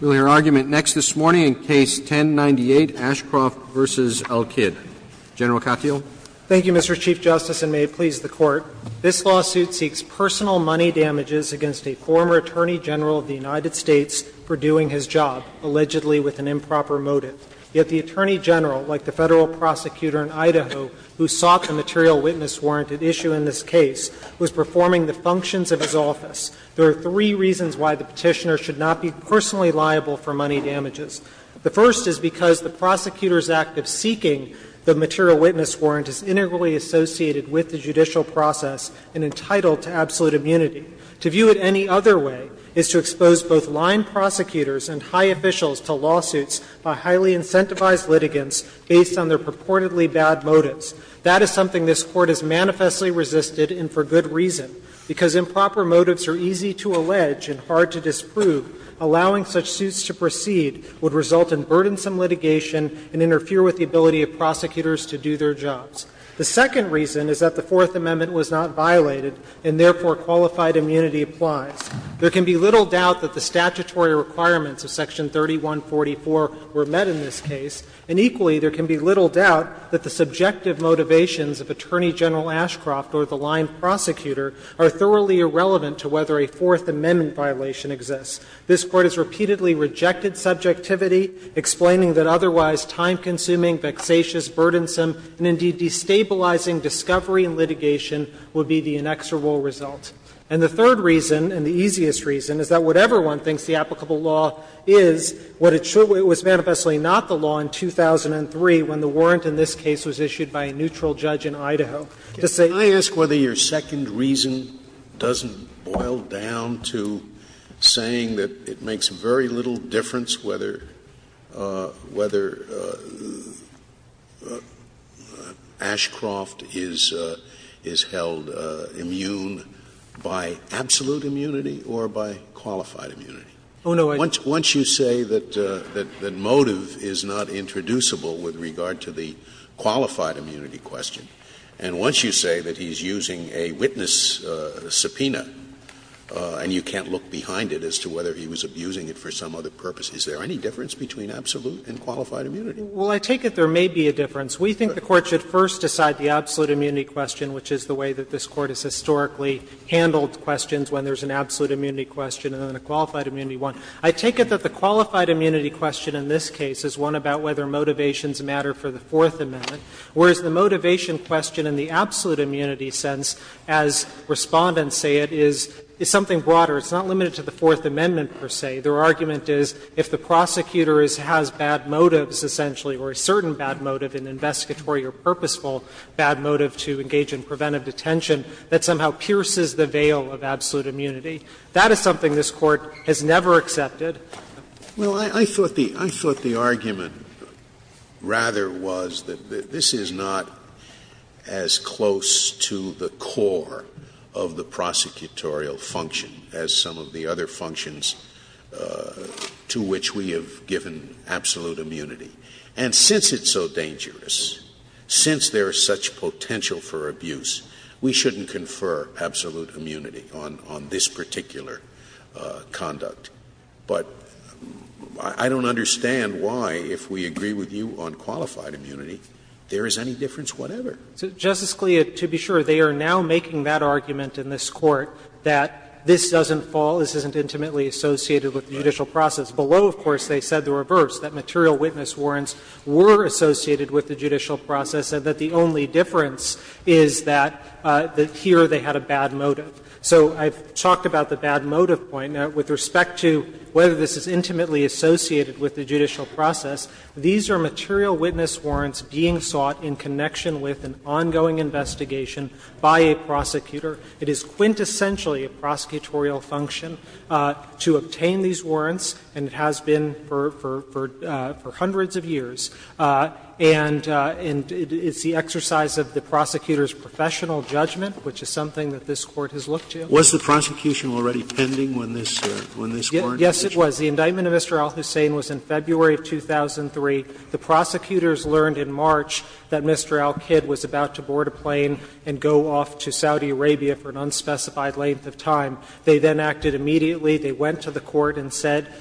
Roll your argument next this morning in Case 10-98, Ashcroft v. al-Kidd. General Katyal. Thank you, Mr. Chief Justice, and may it please the Court. This lawsuit seeks personal money damages against a former Attorney General of the United States for doing his job, allegedly with an improper motive. Yet the Attorney General, like the Federal Prosecutor in Idaho, who sought the material witness warrant at issue in this case, was performing the functions of his office. There are three reasons why the Petitioner should not be personally liable for money damages. The first is because the Prosecutor's Act of seeking the material witness warrant is integrally associated with the judicial process and entitled to absolute immunity. To view it any other way is to expose both line prosecutors and high officials to lawsuits by highly incentivized litigants based on their purportedly bad motives. That is something this Court has manifestly resisted, and for good reason. Because improper motives are easy to allege and hard to disprove, allowing such suits to proceed would result in burdensome litigation and interfere with the ability of prosecutors to do their jobs. The second reason is that the Fourth Amendment was not violated and, therefore, qualified immunity applies. There can be little doubt that the statutory requirements of Section 3144 were met in this case, and equally, there can be little doubt that the subjective motivations of Attorney General Ashcroft or the line prosecutor are thoroughly irrelevant to whether a Fourth Amendment violation exists. This Court has repeatedly rejected subjectivity, explaining that otherwise time-consuming, vexatious, burdensome, and indeed destabilizing discovery and litigation would be the inexorable result. And the third reason, and the easiest reason, is that whatever one thinks the applicable law is, what it should be, it was manifestly not the law in 2003 when the warrant in this case was issued by a neutral judge in Idaho to say. Scalia, can I ask whether your second reason doesn't boil down to saying that it makes very little difference whether Ashcroft is held immune by absolute immunity or by qualified immunity? Once you say that motive is not introducible with regard to the qualified immunity question, and once you say that he's using a witness subpoena and you can't look behind it as to whether he was abusing it for some other purpose, is there any difference between absolute and qualified immunity? Well, I take it there may be a difference. We think the Court should first decide the absolute immunity question, which is the way that this Court has historically handled questions, when there's an absolute immunity question and then a qualified immunity one. I take it that the qualified immunity question in this case is one about whether motivations matter for the Fourth Amendment, whereas the motivation question in the absolute immunity sense, as Respondents say it, is something broader. It's not limited to the Fourth Amendment, per se. Their argument is if the prosecutor has bad motives, essentially, or a certain bad motive, an investigatory or purposeful bad motive to engage in preventive detention that somehow pierces the veil of absolute immunity, that is something this Court has never accepted. Well, I thought the argument rather was that this is not as close to the core of the prosecutorial function as some of the other functions to which we have given absolute immunity. And since it's so dangerous, since there is such potential for abuse, we shouldn't confer absolute immunity on this particular conduct. But I don't understand why, if we agree with you on qualified immunity, there is any difference whatever. Justice Scalia, to be sure, they are now making that argument in this Court that this doesn't fall, this isn't intimately associated with the judicial process. Below, of course, they said the reverse, that material witness warrants were associated with the judicial process, and that the only difference is that here they had a bad motive. So I've talked about the bad motive point. Now, with respect to whether this is intimately associated with the judicial process, these are material witness warrants being sought in connection with an ongoing investigation by a prosecutor. It is quintessentially a prosecutorial function to obtain these warrants, and it has been for hundreds of years. And it's the exercise of the prosecutor's professional judgment, which is something that this Court has looked to. Scalia, was the prosecution already pending when this warrant was issued? Yes, it was. The indictment of Mr. al-Hussein was in February of 2003. The prosecutors learned in March that Mr. al-Kid was about to board a plane and go off to Saudi Arabia for an unspecified length of time. They then acted immediately. They went to the Court and said,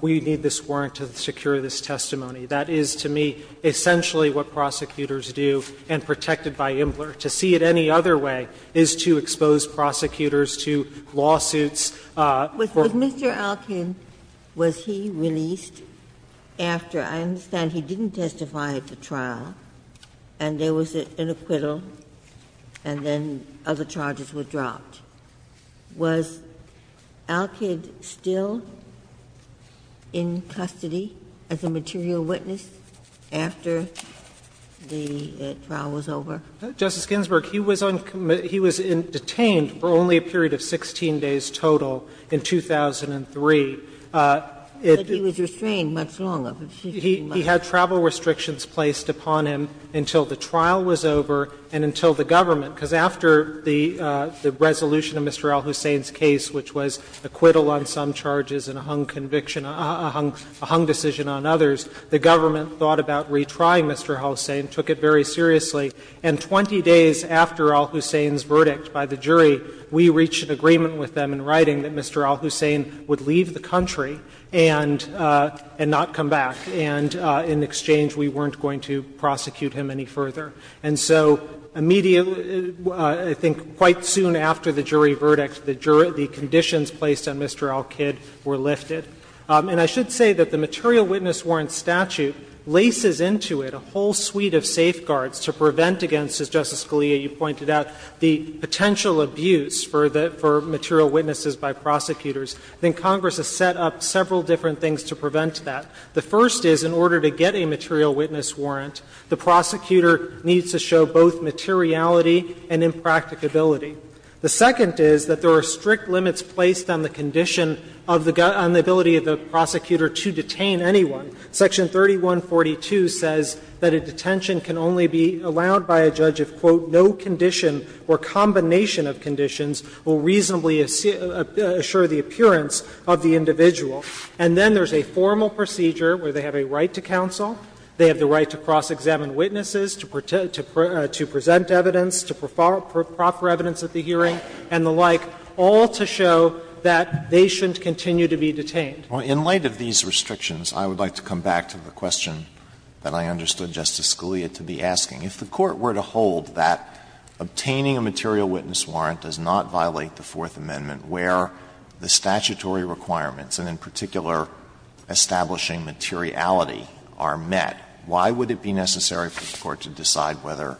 we need this warrant to secure this testimony. That is, to me, essentially what prosecutors do, and protected by Imler. To see it any other way is to expose prosecutors to lawsuits. With Mr. al-Kid, was he released after, I understand, he didn't testify at the trial, and there was an acquittal, and then other charges were dropped. Was al-Kid still in custody as a material witness after the trial was over? Justice Ginsburg, he was on commit – he was detained for only a period of 16 days total in 2003. But he was restrained much longer. He had travel restrictions placed upon him until the trial was over and until the government, because after the resolution of Mr. al-Hussein's case, which was acquittal on some charges and a hung conviction – a hung decision on others, the government thought about retrying Mr. al-Hussein, took it very seriously. And 20 days after al-Hussein's verdict by the jury, we reached an agreement with them in writing that Mr. al-Hussein would leave the country and not come back. And in exchange, we weren't going to prosecute him any further. And so immediately, I think quite soon after the jury verdict, the jury – the conditions placed on Mr. al-Kid were lifted. And I should say that the material witness warrant statute laces into it a whole suite of safeguards to prevent against, as Justice Scalia, you pointed out, the potential abuse for the – for material witnesses by prosecutors. I think Congress has set up several different things to prevent that. The first is, in order to get a material witness warrant, the prosecutor needs to show both materiality and impracticability. The second is that there are strict limits placed on the condition of the – on the ability of the prosecutor to detain anyone. Section 3142 says that a detention can only be allowed by a judge if, quote, no condition or combination of conditions will reasonably assure the appearance of the individual. And then there's a formal procedure where they have a right to counsel, they have the right to cross-examine witnesses, to present evidence, to proffer evidence at the hearing, and the like, all to show that they shouldn't continue to be detained. Alitoso, in light of these restrictions, I would like to come back to the question that I understood Justice Scalia to be asking. If the Court were to hold that obtaining a material witness warrant does not violate the Fourth Amendment where the statutory requirements, and in particular, establishing materiality, are met, why would it be necessary for the Court to decide whether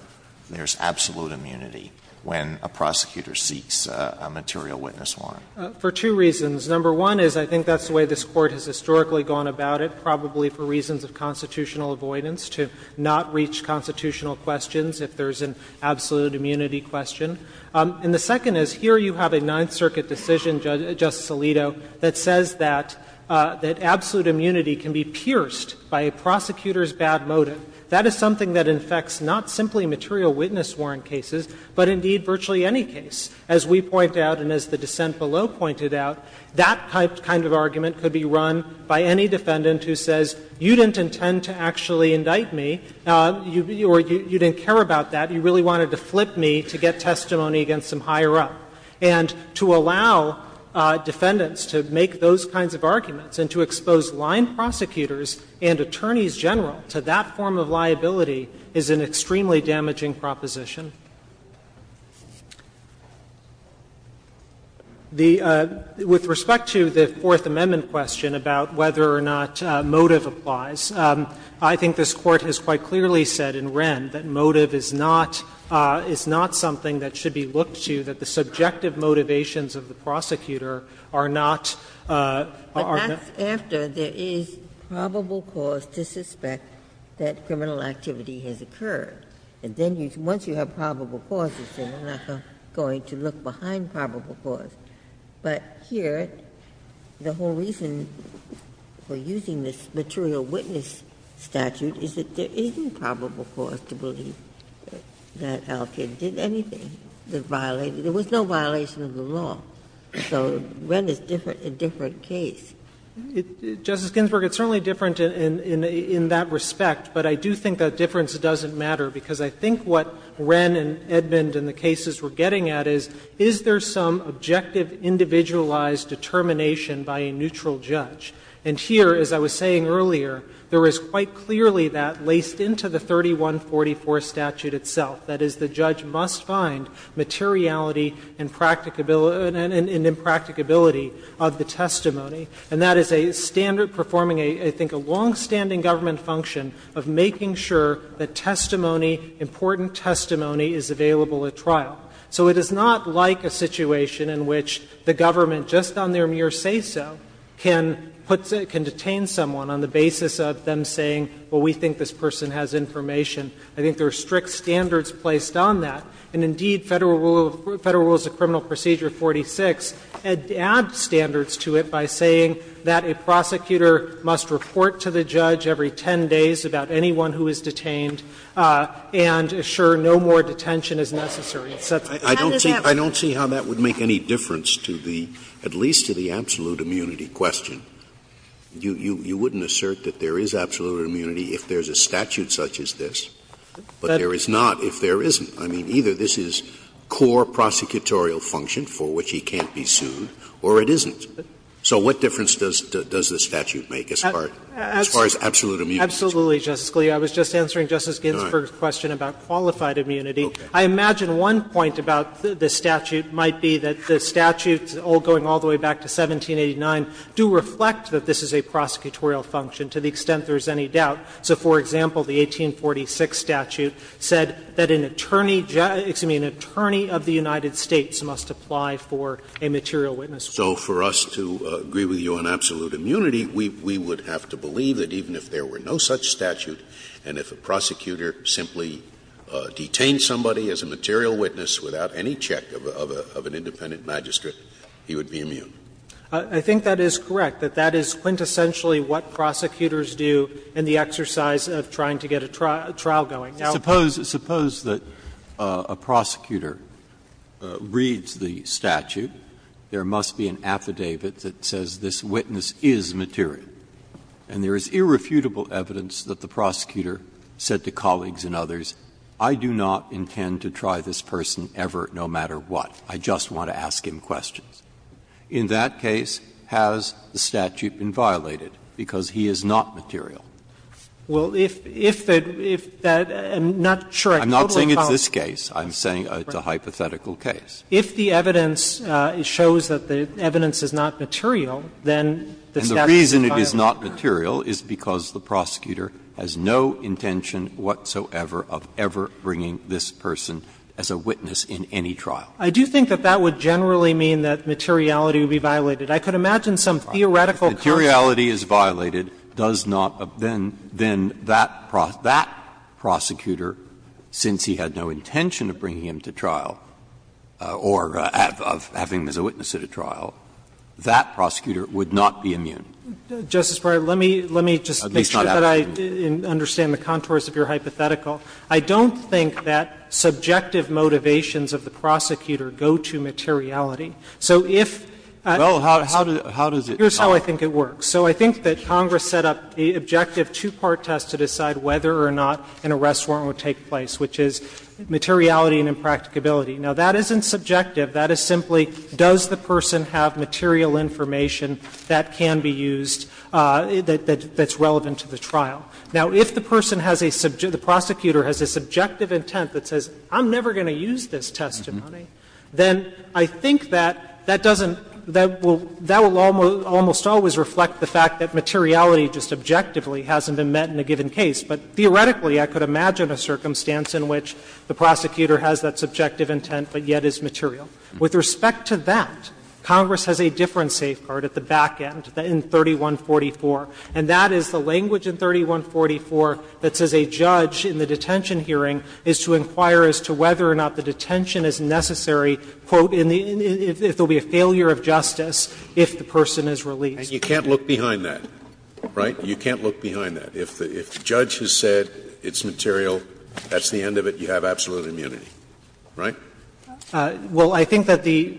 there's absolute immunity when a prosecutor seeks a material witness warrant? For two reasons. Number one is I think that's the way this Court has historically gone about it, probably for reasons of constitutional avoidance, to not reach constitutional questions if there's an absolute immunity question. And the second is, here you have a Ninth Circuit decision, Justice Alito, that says that absolute immunity can be pierced by a prosecutor's bad motive. That is something that infects not simply material witness warrant cases, but indeed virtually any case. As we point out and as the dissent below pointed out, that kind of argument could be run by any defendant who says, you didn't intend to actually indict me, or you didn't care about that, you really wanted to flip me to get testimony against some higher-up. And to allow defendants to make those kinds of arguments and to expose line prosecutors and attorneys general to that form of liability is an extremely damaging proposition. With respect to the Fourth Amendment question about whether or not motive applies, I think this Court has quite clearly said in Wren that motive is not – is not something that should be looked to, that the subjective motivations of the prosecutor are not – Ginsburg. But that's after there is probable cause to suspect that criminal activity has occurred. And then once you have probable cause, you say, I'm not going to look behind probable cause. But here, the whole reason for using this material witness statute is that there isn't probable cause to believe that Alkit did anything that violated – there was no violation of the law. So Wren is a different case. Justice Ginsburg, it's certainly different in that respect, but I do think that difference doesn't matter, because I think what Wren and Edmund and the cases we're getting at is, is there some objective, individualized determination by a neutral judge? And here, as I was saying earlier, there is quite clearly that laced into the 3144 statute itself. That is, the judge must find materiality and impracticability of the testimony. And that is a standard performing, I think, a longstanding government function of making sure that testimony, important testimony, is available at trial. So it is not like a situation in which the government, just on their mere say-so, can put – can detain someone on the basis of them saying, well, we think this person has information. I think there are strict standards placed on that. And indeed, Federal Rule of – Federal Rules of Criminal Procedure 46 add standards to it by saying that a prosecutor must report to the judge every 10 days about anyone who is detained and assure no more detention is necessary. And so that's what happens. Scalia I don't see – I don't see how that would make any difference to the – at least to the absolute immunity question. You wouldn't assert that there is absolute immunity if there's a statute such as this, but there is not if there isn't. I mean, either this is core prosecutorial function for which he can't be sued, or it isn't. So what difference does this statute make as far – as far as absolute immunity Katyal Absolutely, Justice Scalia. I was just answering Justice Ginsburg's question about qualified immunity. I imagine one point about the statute might be that the statute, going all the way back to 1789, do reflect that this is a prosecutorial function to the extent there is any doubt. So, for example, the 1846 statute said that an attorney – excuse me, an attorney of the United States must apply for a material witness. So for us to agree with you on absolute immunity, we would have to believe that even if there were no such statute, and if a prosecutor simply detained somebody as a material witness without any check of an independent magistrate, he would be immune. Katyal I think that is correct, that that is quintessentially what prosecutors do in the exercise of trying to get a trial going. Breyer Suppose – suppose that a prosecutor reads the statute. There must be an affidavit that says this witness is material. And there is irrefutable evidence that the prosecutor said to colleagues and others, I do not intend to try this person ever, no matter what, I just want to ask him questions. In that case, has the statute been violated because he is not material? Katyal Well, if the – if that – I'm not sure. I totally follow. Breyer I'm not saying it's this case. I'm saying it's a hypothetical case. Katyal If the evidence shows that the evidence is not material, then the statute is violated. Breyer And the reason it is not material is because the prosecutor has no intention whatsoever of ever bringing this person as a witness in any trial. Katyal I do think that that would generally mean that materiality would be violated. I could imagine some theoretical consequence. Breyer If materiality is violated, does not – then that prosecutor, since he had no intention of bringing him to trial or of having him as a witness at a trial, that prosecutor would not be immune. Katyal Justice Breyer, let me just make sure that I understand the contours of your hypothetical. I don't think that subjective motivations of the prosecutor go to materiality. So if – Breyer Well, how does it – how does it solve? How does it work? So I think that Congress set up the objective two-part test to decide whether or not an arrest warrant would take place, which is materiality and impracticability. Now, that isn't subjective. That is simply does the person have material information that can be used, that's relevant to the trial. Now, if the person has a – the prosecutor has a subjective intent that says, I'm never going to use this testimony, then I think that that doesn't – that will – that will almost always reflect the fact that materiality just objectively hasn't been met in a given case. But theoretically, I could imagine a circumstance in which the prosecutor has that subjective intent, but yet is material. With respect to that, Congress has a different safeguard at the back end in 3144. And that is the language in 3144 that says a judge in the detention hearing is to inquire as to whether or not the detention is necessary, quote, in the – if there will be a failure of justice if the person is released. Scalia. And you can't look behind that, right? You can't look behind that. If the judge has said it's material, that's the end of it, you have absolute immunity, right? Well, I think that the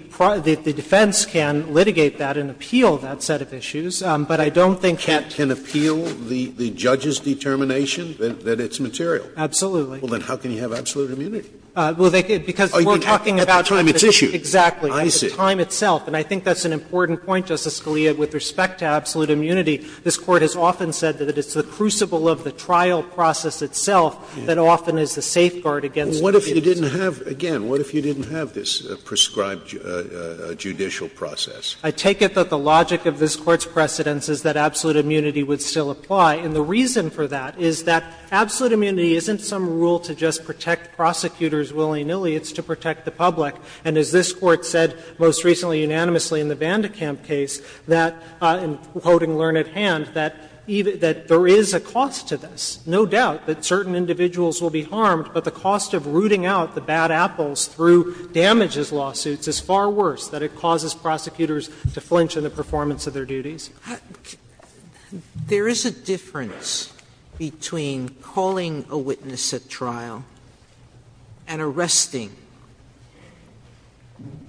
defense can litigate that and appeal that set of issues, but I don't think it can appeal the judge's determination that it's material. Absolutely. Well, then how can you have absolute immunity? Well, they could, because we're talking about time. At that time, it's issued. Exactly. I see. But it's the time itself, and I think that's an important point, Justice Scalia, with respect to absolute immunity. This Court has often said that it's the crucible of the trial process itself that often is the safeguard against impunity. Well, what if you didn't have – again, what if you didn't have this prescribed judicial process? I take it that the logic of this Court's precedence is that absolute immunity would still apply. And the reason for that is that absolute immunity isn't some rule to just protect prosecutors willy-nilly, it's to protect the public. And as this Court said most recently, unanimously, in the Vandekamp case, that, in quoting Learned Hand, that there is a cost to this. No doubt that certain individuals will be harmed, but the cost of rooting out the bad apples through damages lawsuits is far worse, that it causes prosecutors to flinch in the performance of their duties. Sotomayor, there is a difference between calling a witness at trial and arresting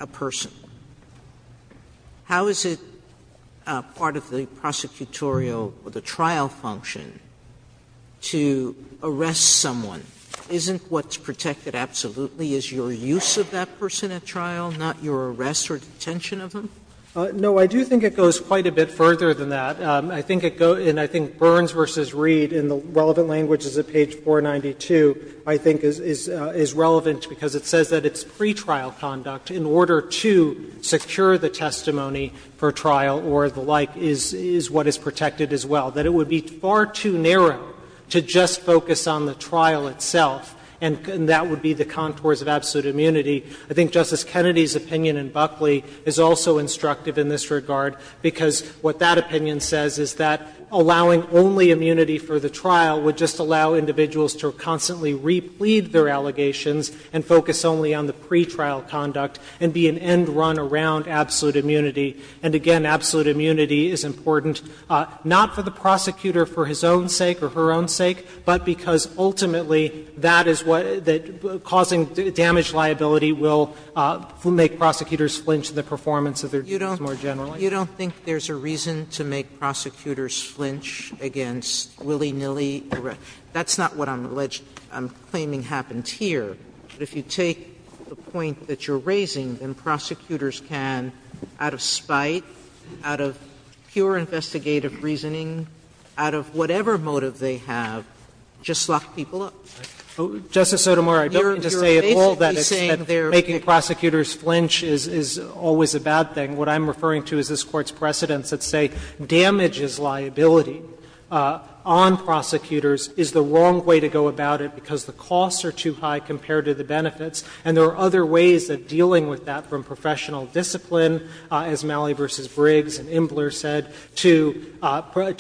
a person. How is it part of the prosecutorial or the trial function to arrest someone? Isn't what's protected absolutely is your use of that person at trial, not your arrest or detention of them? No, I do think it goes quite a bit further than that. I think it goes — and I think Burns v. Reed, in the relevant languages of page 492, I think is relevant because it says that it's pretrial conduct in order to secure the testimony for trial or the like is what is protected as well. That it would be far too narrow to just focus on the trial itself, and that would be the contours of absolute immunity. I think Justice Kennedy's opinion in Buckley is also instructive in this regard, because what that opinion says is that allowing only immunity for the trial would just allow individuals to constantly replead their allegations and focus only on the pretrial conduct and be an end run around absolute immunity. And again, absolute immunity is important, not for the prosecutor for his own sake or her own sake, but because ultimately that is what — that causing damage liability will make prosecutors flinch in the performance of their duties more generally. You don't think there's a reason to make prosecutors flinch against willy-nilly arrest? That's not what I'm alleged — I'm claiming happens here. But if you take the point that you're raising, then prosecutors can, out of spite, out of pure investigative reasoning, out of whatever motive they have, just lock people up. Justice Sotomayor, I don't mean to say at all that making prosecutors flinch is always a bad thing. What I'm referring to is this Court's precedents that say damage is liability on prosecutors is the wrong way to go about it, because the costs are too high compared to the benefits. And there are other ways of dealing with that, from professional discipline, as Malley v. Briggs and Imbler said, to bar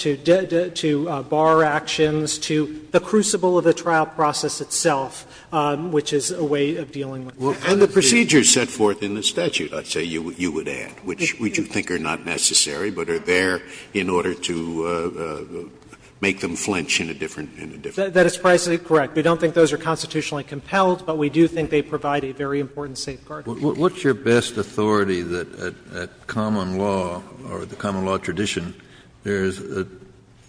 actions, to the crucible of the trial process itself, which is a way of dealing with that. Scalia. And the procedures set forth in the statute, I'd say you would add, which you think are not necessary but are there in order to make them flinch in a different way. That is precisely correct. We don't think those are constitutionally compelled, but we do think they provide a very important safeguard. Kennedy. What's your best authority that at common law or the common law tradition, there is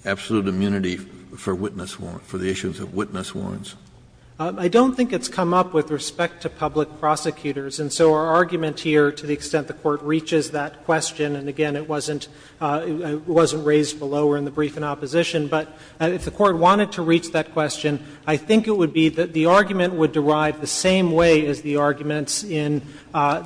absolute immunity for witness warrant, for the issues of witness warrants? I don't think it's come up with respect to public prosecutors, and so our argument here, to the extent the Court reaches that question, and again, it wasn't raised below or in the brief in opposition, but if the Court wanted to reach that question, I think it would be that the argument would derive the same way as the arguments in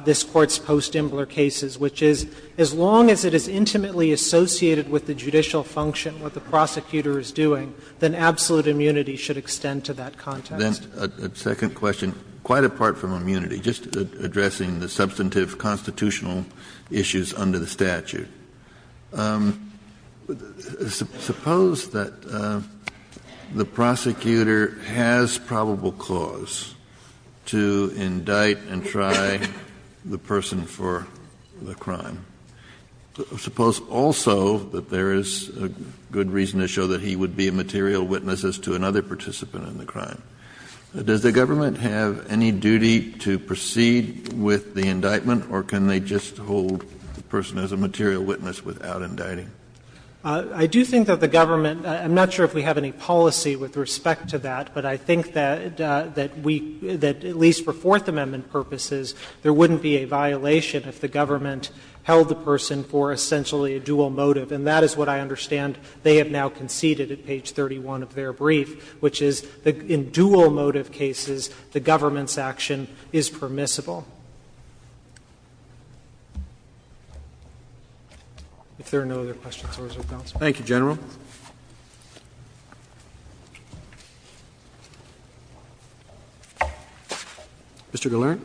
this Court's post-Imbler cases, which is, as long as it is intimately associated with the judicial function, what the prosecutor is doing, then absolute immunity should extend to that context. Kennedy. Then a second question, quite apart from immunity, just addressing the substantive constitutional issues under the statute. Suppose that the prosecutor has probable cause to indict and try the person for the indictment, but there is a good reason to show that he would be a material witness as to another participant in the crime. Does the government have any duty to proceed with the indictment, or can they just hold the person as a material witness without indicting? I do think that the government — I'm not sure if we have any policy with respect to that, but I think that we — that at least for Fourth Amendment purposes, there wouldn't be a violation if the government held the person for essentially a dual motive. And that is what I understand they have now conceded at page 31 of their brief, which is that in dual motive cases, the government's action is permissible. If there are no other questions, I will close with counsel. Roberts. Thank you, General. Mr. Gillern.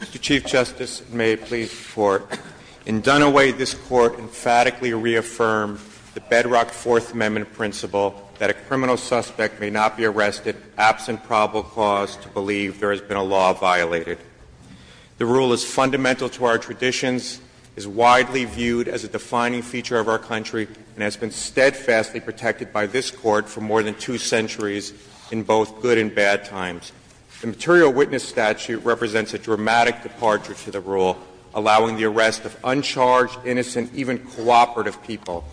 Mr. Chief Justice, and may it please the Court. In Dunaway, this Court emphatically reaffirmed the bedrock Fourth Amendment principle that a criminal suspect may not be arrested absent probable cause to believe there has been a law violated. The rule is fundamental to our traditions, is widely viewed as a defining feature of our country, and has been steadfastly protected by this Court for more than two centuries in both good and bad times. The material witness statute represents a dramatic departure to the rule, allowing the arrest of uncharged, innocent, even cooperative people.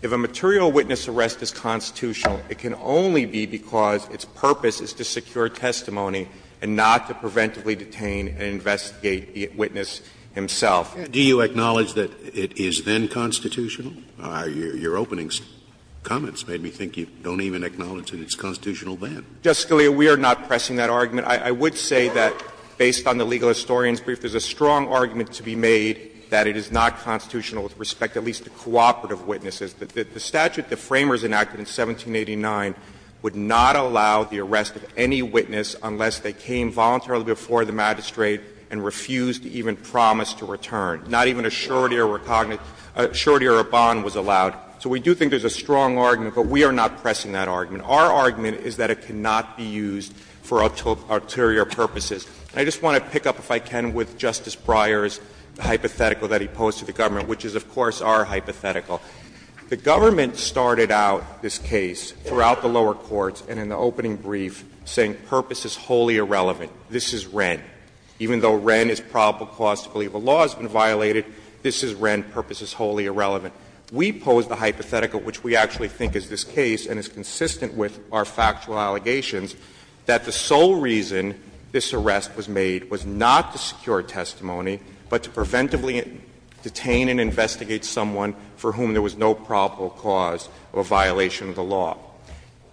If a material witness arrest is constitutional, it can only be because its purpose is to secure testimony and not to preventively detain and investigate the witness himself. Scalia, do you acknowledge that it is then constitutional? Your opening comments made me think you don't even acknowledge that it's constitutional then. Justice Scalia, we are not pressing that argument. I would say that, based on the legal historian's brief, there's a strong argument to be made that it is not constitutional with respect at least to cooperative witnesses. The statute the Framers enacted in 1789 would not allow the arrest of any witness unless they came voluntarily before the magistrate and refused even promise to return, not even a surety or a bond was allowed. So we do think there's a strong argument, but we are not pressing that argument. Our argument is that it cannot be used for ulterior purposes. I just want to pick up, if I can, with Justice Breyer's hypothetical that he posed to the government, which is, of course, our hypothetical. The government started out this case throughout the lower courts and in the opening brief saying purpose is wholly irrelevant, this is Wren. Even though Wren is probable cause to believe a law has been violated, this is Wren, purpose is wholly irrelevant. We pose the hypothetical, which we actually think is this case, and it's consistent with our factual allegations, that the sole reason this arrest was made was not to secure testimony, but to preventively detain and investigate someone for whom there was no probable cause of a violation of the law.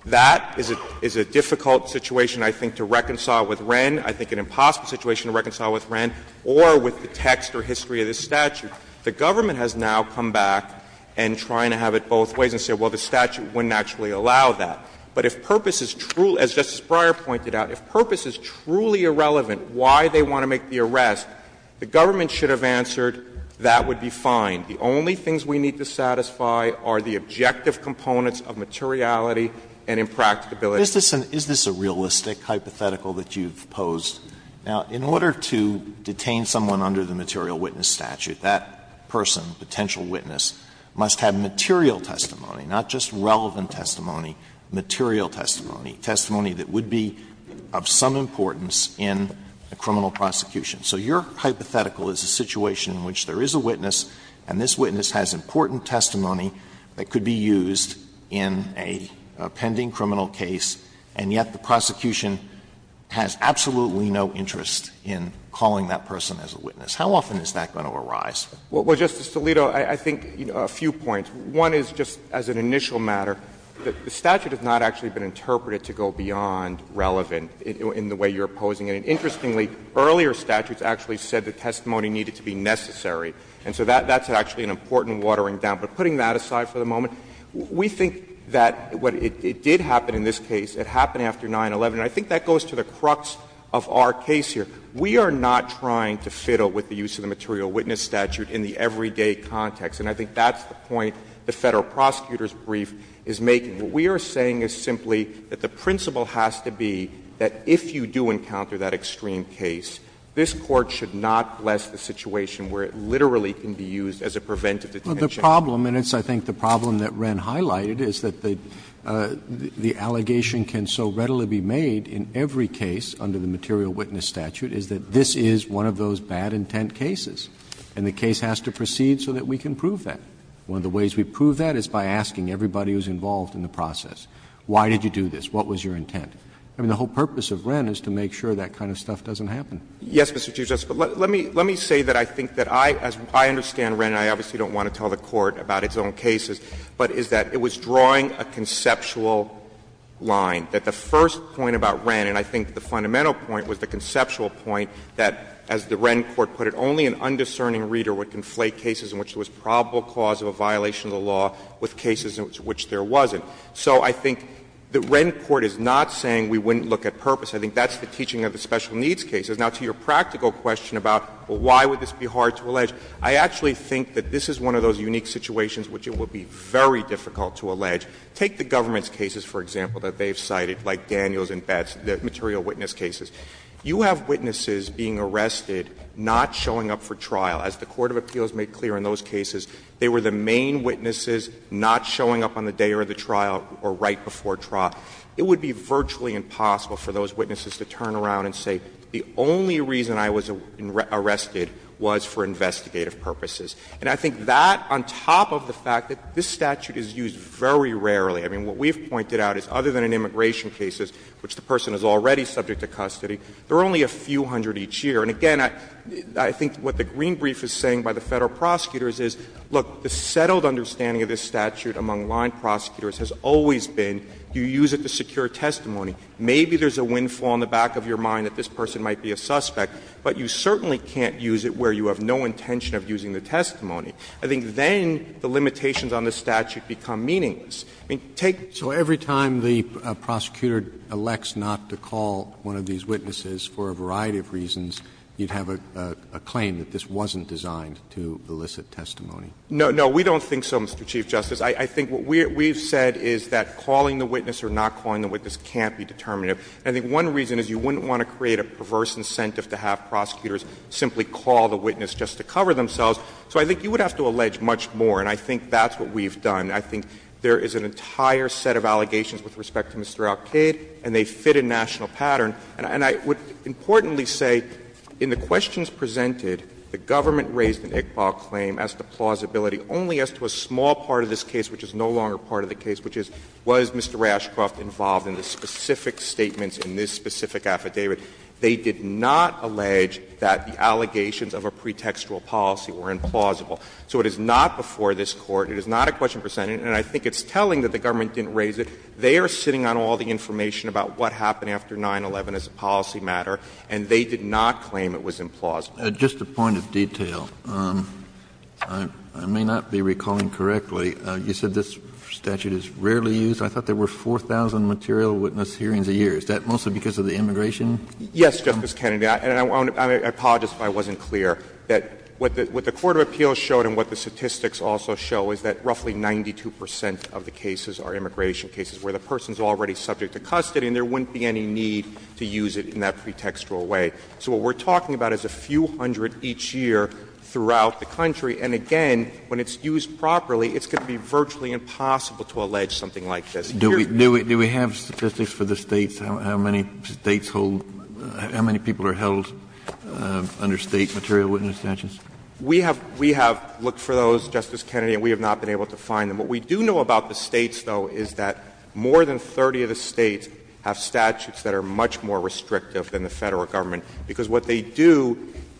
That is a difficult situation, I think, to reconcile with Wren, I think an impossible situation to reconcile with Wren, or with the text or history of this statute. The government has now come back and trying to have it both ways and said, well, the statute wouldn't actually allow that. But if purpose is truly, as Justice Breyer pointed out, if purpose is truly irrelevant why they want to make the arrest, the government should have answered that would be fine. The only things we need to satisfy are the objective components of materiality and impracticability. Alitoson, is this a realistic hypothetical that you've posed? Now, in order to detain someone under the material witness statute, that person, potential witness, must have material testimony, not just relevant testimony, material testimony, testimony that would be of some importance in a criminal prosecution. So your hypothetical is a situation in which there is a witness and this witness has important testimony that could be used in a pending criminal case, and yet the government has absolutely no interest in calling that person as a witness. How often is that going to arise? Well, Justice Alito, I think, you know, a few points. One is just as an initial matter, the statute has not actually been interpreted to go beyond relevant in the way you're posing it. And interestingly, earlier statutes actually said the testimony needed to be necessary. And so that's actually an important watering down. But putting that aside for the moment, we think that what it did happen in this case, it happened after 9-11, and I think that goes to the crux of our case here. We are not trying to fiddle with the use of the material witness statute in the everyday context, and I think that's the point the Federal Prosecutor's brief is making. What we are saying is simply that the principle has to be that if you do encounter that extreme case, this Court should not bless the situation where it literally can be used as a preventative detention. Well, the problem, and it's I think the problem that Wren highlighted, is that the allegation can so readily be made in every case under the material witness statute is that this is one of those bad intent cases, and the case has to proceed so that we can prove that. One of the ways we prove that is by asking everybody who's involved in the process, why did you do this, what was your intent? I mean, the whole purpose of Wren is to make sure that kind of stuff doesn't happen. Yes, Mr. Chief Justice, but let me say that I think that I, as I understand Wren, and I obviously don't want to tell the Court about its own cases, but is that it was drawing a conceptual line, that the first point about Wren, and I think the fundamental point was the conceptual point that, as the Wren court put it, only an undiscerning reader would conflate cases in which there was probable cause of a violation of the law with cases in which there wasn't. So I think the Wren court is not saying we wouldn't look at purpose. I think that's the teaching of the special needs cases. Now, to your practical question about, well, why would this be hard to allege, I actually think that this is one of those unique situations which it would be very difficult to allege. Take the government's cases, for example, that they've cited, like Daniels and Betz, the material witness cases. You have witnesses being arrested, not showing up for trial. As the court of appeals made clear in those cases, they were the main witnesses not showing up on the day or the trial or right before trial. It would be virtually impossible for those witnesses to turn around and say the only reason I was arrested was for investigative purposes. And I think that, on top of the fact that this statute is used very rarely, I mean, what we've pointed out is other than in immigration cases, which the person is already subject to custody, there are only a few hundred each year. And again, I think what the green brief is saying by the Federal prosecutors is, look, the settled understanding of this statute among line prosecutors has always been you use it to secure testimony. Maybe there's a windfall in the back of your mind that this person might be a suspect, but you certainly can't use it where you have no intention of using the testimony. I think then the limitations on the statute become meaningless. I mean, take the case of the 1990s. Roberts, so every time the prosecutor elects not to call one of these witnesses for a variety of reasons, you'd have a claim that this wasn't designed to elicit testimony? No, no, we don't think so, Mr. Chief Justice. I think what we've said is that calling the witness or not calling the witness can't be determinative. I think one reason is you wouldn't want to create a perverse incentive to have prosecutors simply call the witness just to cover themselves. So I think you would have to allege much more, and I think that's what we've done. I think there is an entire set of allegations with respect to Mr. Alkaid, and they fit a national pattern. And I would importantly say in the questions presented, the government raised an Iqbal claim as to plausibility only as to a small part of this case which is no longer part of the case, which is, was Mr. Rashcroft involved in the specific statements in this specific affidavit. They did not allege that the allegations of a pretextual policy were implausible. So it is not before this Court, it is not a question presented, and I think it's telling that the government didn't raise it. They are sitting on all the information about what happened after 9-11 as a policy matter, and they did not claim it was implausible. Kennedy, I apologize if I wasn't clear, that what the Court of Appeals showed and what the statistics also show is that roughly 92 percent of the cases are immigration cases, where the person is already subject to custody and there wouldn't be any need to use it in that pretextual way. So what we're talking about is a few hundred percent of the cases are immigration to use it in that pretextual way. And so we're talking about a few hundred each year throughout the country, and again, when it's used properly, it's going to be virtually impossible to allege something like this. Kennedy, do we have statistics for the States, how many States hold, how many people are held under State material witness statutes? We have looked for those, Justice Kennedy, and we have not been able to find them. What we do know about the States, though, is that more than 30 of the States have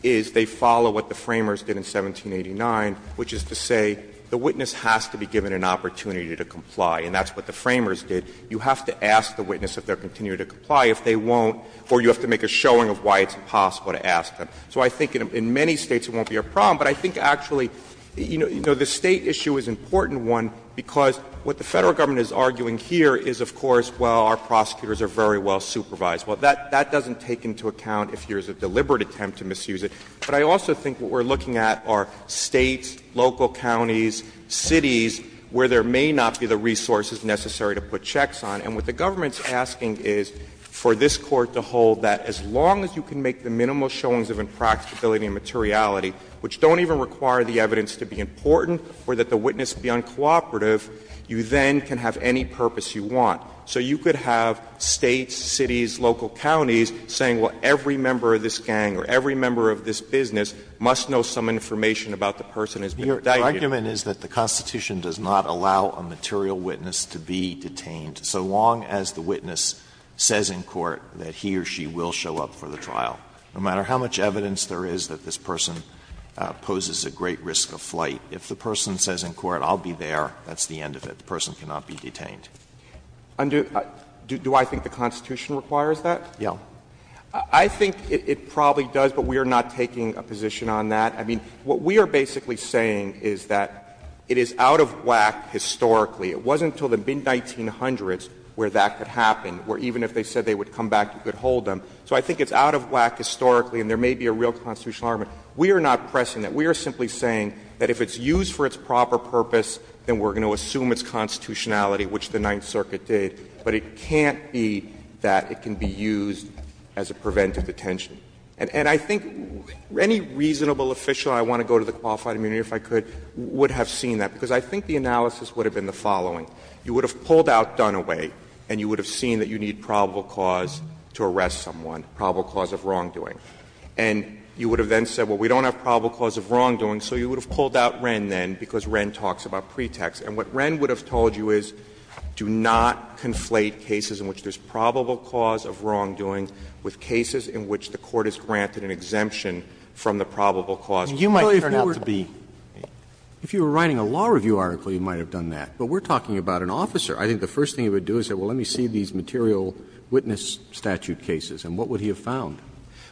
is they follow what the Framers did in 1789, which is to say the witness has to be given an opportunity to comply, and that's what the Framers did. You have to ask the witness if they're continuing to comply. If they won't, or you have to make a showing of why it's impossible to ask them. So I think in many States it won't be a problem, but I think actually, you know, the State issue is an important one because what the Federal government is arguing here is, of course, well, our prosecutors are very well supervised. Well, that doesn't take into account if there's a deliberate attempt to misuse it. But I also think what we're looking at are States, local counties, cities where there may not be the resources necessary to put checks on. And what the government is asking is for this Court to hold that as long as you can make the minimal showings of impracticability and materiality, which don't even require the evidence to be important or that the witness be uncooperative, you then can have any purpose you want. So you could have States, cities, local counties saying, well, every member of this gang or every member of this business must know some information about the person who has been detained. Alito, your argument is that the Constitution does not allow a material witness to be detained so long as the witness says in court that he or she will show up for the trial. No matter how much evidence there is that this person poses a great risk of flight, if the person says in court, I'll be there, that's the end of it. The person cannot be detained. Do I think the Constitution requires that? Yeah. I think it probably does, but we are not taking a position on that. I mean, what we are basically saying is that it is out of whack historically. It wasn't until the mid-1900s where that could happen, where even if they said they would come back, you could hold them. So I think it's out of whack historically, and there may be a real constitutional argument. We are not pressing that. We are simply saying that if it's used for its proper purpose, then we're going to assume its constitutionality, which the Ninth Circuit did, but it can't be that it can be used as a preventive detention. And I think any reasonable official, I want to go to the qualified immunity if I could, would have seen that, because I think the analysis would have been the following. You would have pulled out Dunaway, and you would have seen that you need probable cause to arrest someone, probable cause of wrongdoing. And you would have then said, well, we don't have probable cause of wrongdoing, so you would have pulled out Wren, then, because Wren talks about pretext. And what Wren would have told you is, do not conflate cases in which there's probable cause of wrongdoing with cases in which the Court has granted an exemption from the probable cause. You might turn out to be. Roberts. If you were writing a law review article, you might have done that. But we're talking about an officer. I think the first thing he would do is say, well, let me see these material witness statute cases, and what would he have found?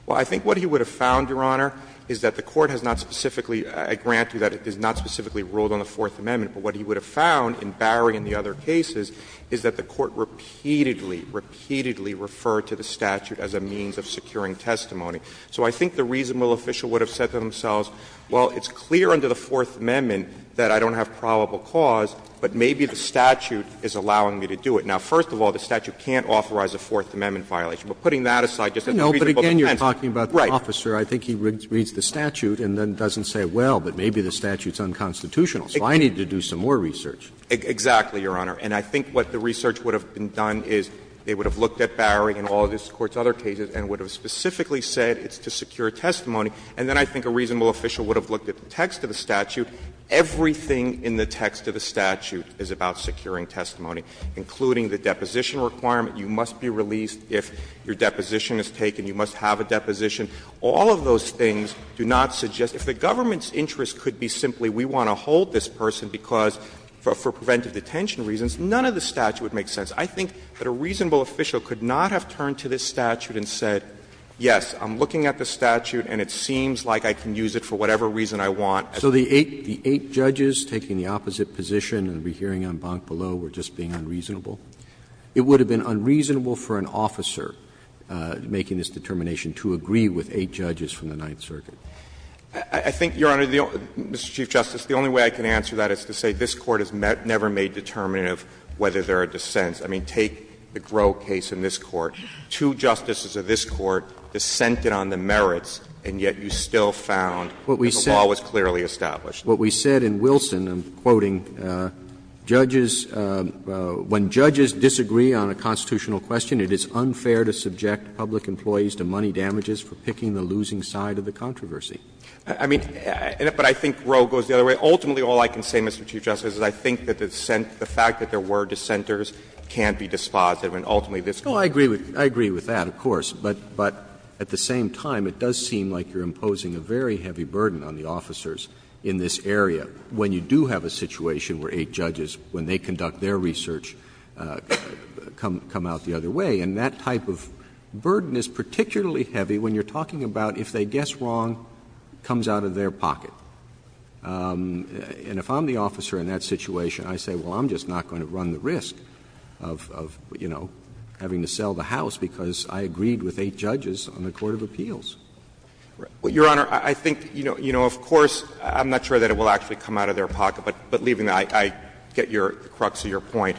Well, I think what he would have found, Your Honor, is that the Court has not specifically granted that it is not specifically ruled on the Fourth Amendment. But what he would have found in Barry and the other cases is that the Court repeatedly, repeatedly referred to the statute as a means of securing testimony. So I think the reasonable official would have said to themselves, well, it's clear under the Fourth Amendment that I don't have probable cause, but maybe the statute is allowing me to do it. Now, first of all, the statute can't authorize a Fourth Amendment violation. But putting that aside, just as a reasonable defense. Roberts. Right. But I think he reads the statute and then doesn't say, well, but maybe the statute is unconstitutional, so I need to do some more research. Exactly, Your Honor. And I think what the research would have done is they would have looked at Barry and all of this Court's other cases and would have specifically said it's to secure testimony. And then I think a reasonable official would have looked at the text of the statute. Everything in the text of the statute is about securing testimony, including the deposition requirement. You must be released if your deposition is taken. You must have a deposition. All of those things do not suggest, if the government's interest could be simply we want to hold this person because, for preventive detention reasons, none of the statute would make sense. I think that a reasonable official could not have turned to this statute and said, yes, I'm looking at the statute and it seems like I can use it for whatever reason I want. So the eight judges taking the opposite position and the hearing on Bonk Below were just being unreasonable. It would have been unreasonable for an officer making this determination to agree with eight judges from the Ninth Circuit. I think, Your Honor, Mr. Chief Justice, the only way I can answer that is to say this Court has never made a determination of whether there are dissents. I mean, take the Groh case in this Court. Two justices of this Court dissented on the merits, and yet you still found that the law was clearly established. What we said in Wilson, I'm quoting, judges — when judges disagree on a constitutional question, it is unfair to subject public employees to money damages for picking the losing side of the controversy. I mean, but I think Groh goes the other way. Ultimately, all I can say, Mr. Chief Justice, is I think that the fact that there were dissenters can't be dispositive, and ultimately this Court— Roberts. I agree with that, of course. But at the same time, it does seem like you're imposing a very heavy burden on the officers in this area when you do have a situation where eight judges, when they conduct their research, come out the other way. And that type of burden is particularly heavy when you're talking about if they guess wrong, comes out of their pocket. And if I'm the officer in that situation, I say, well, I'm just not going to run the risk of, you know, having to sell the house because I agreed with eight judges on the court of appeals. Well, Your Honor, I think, you know, of course, I'm not sure that it will actually come out of their pocket, but leaving that, I get your — the crux of your point.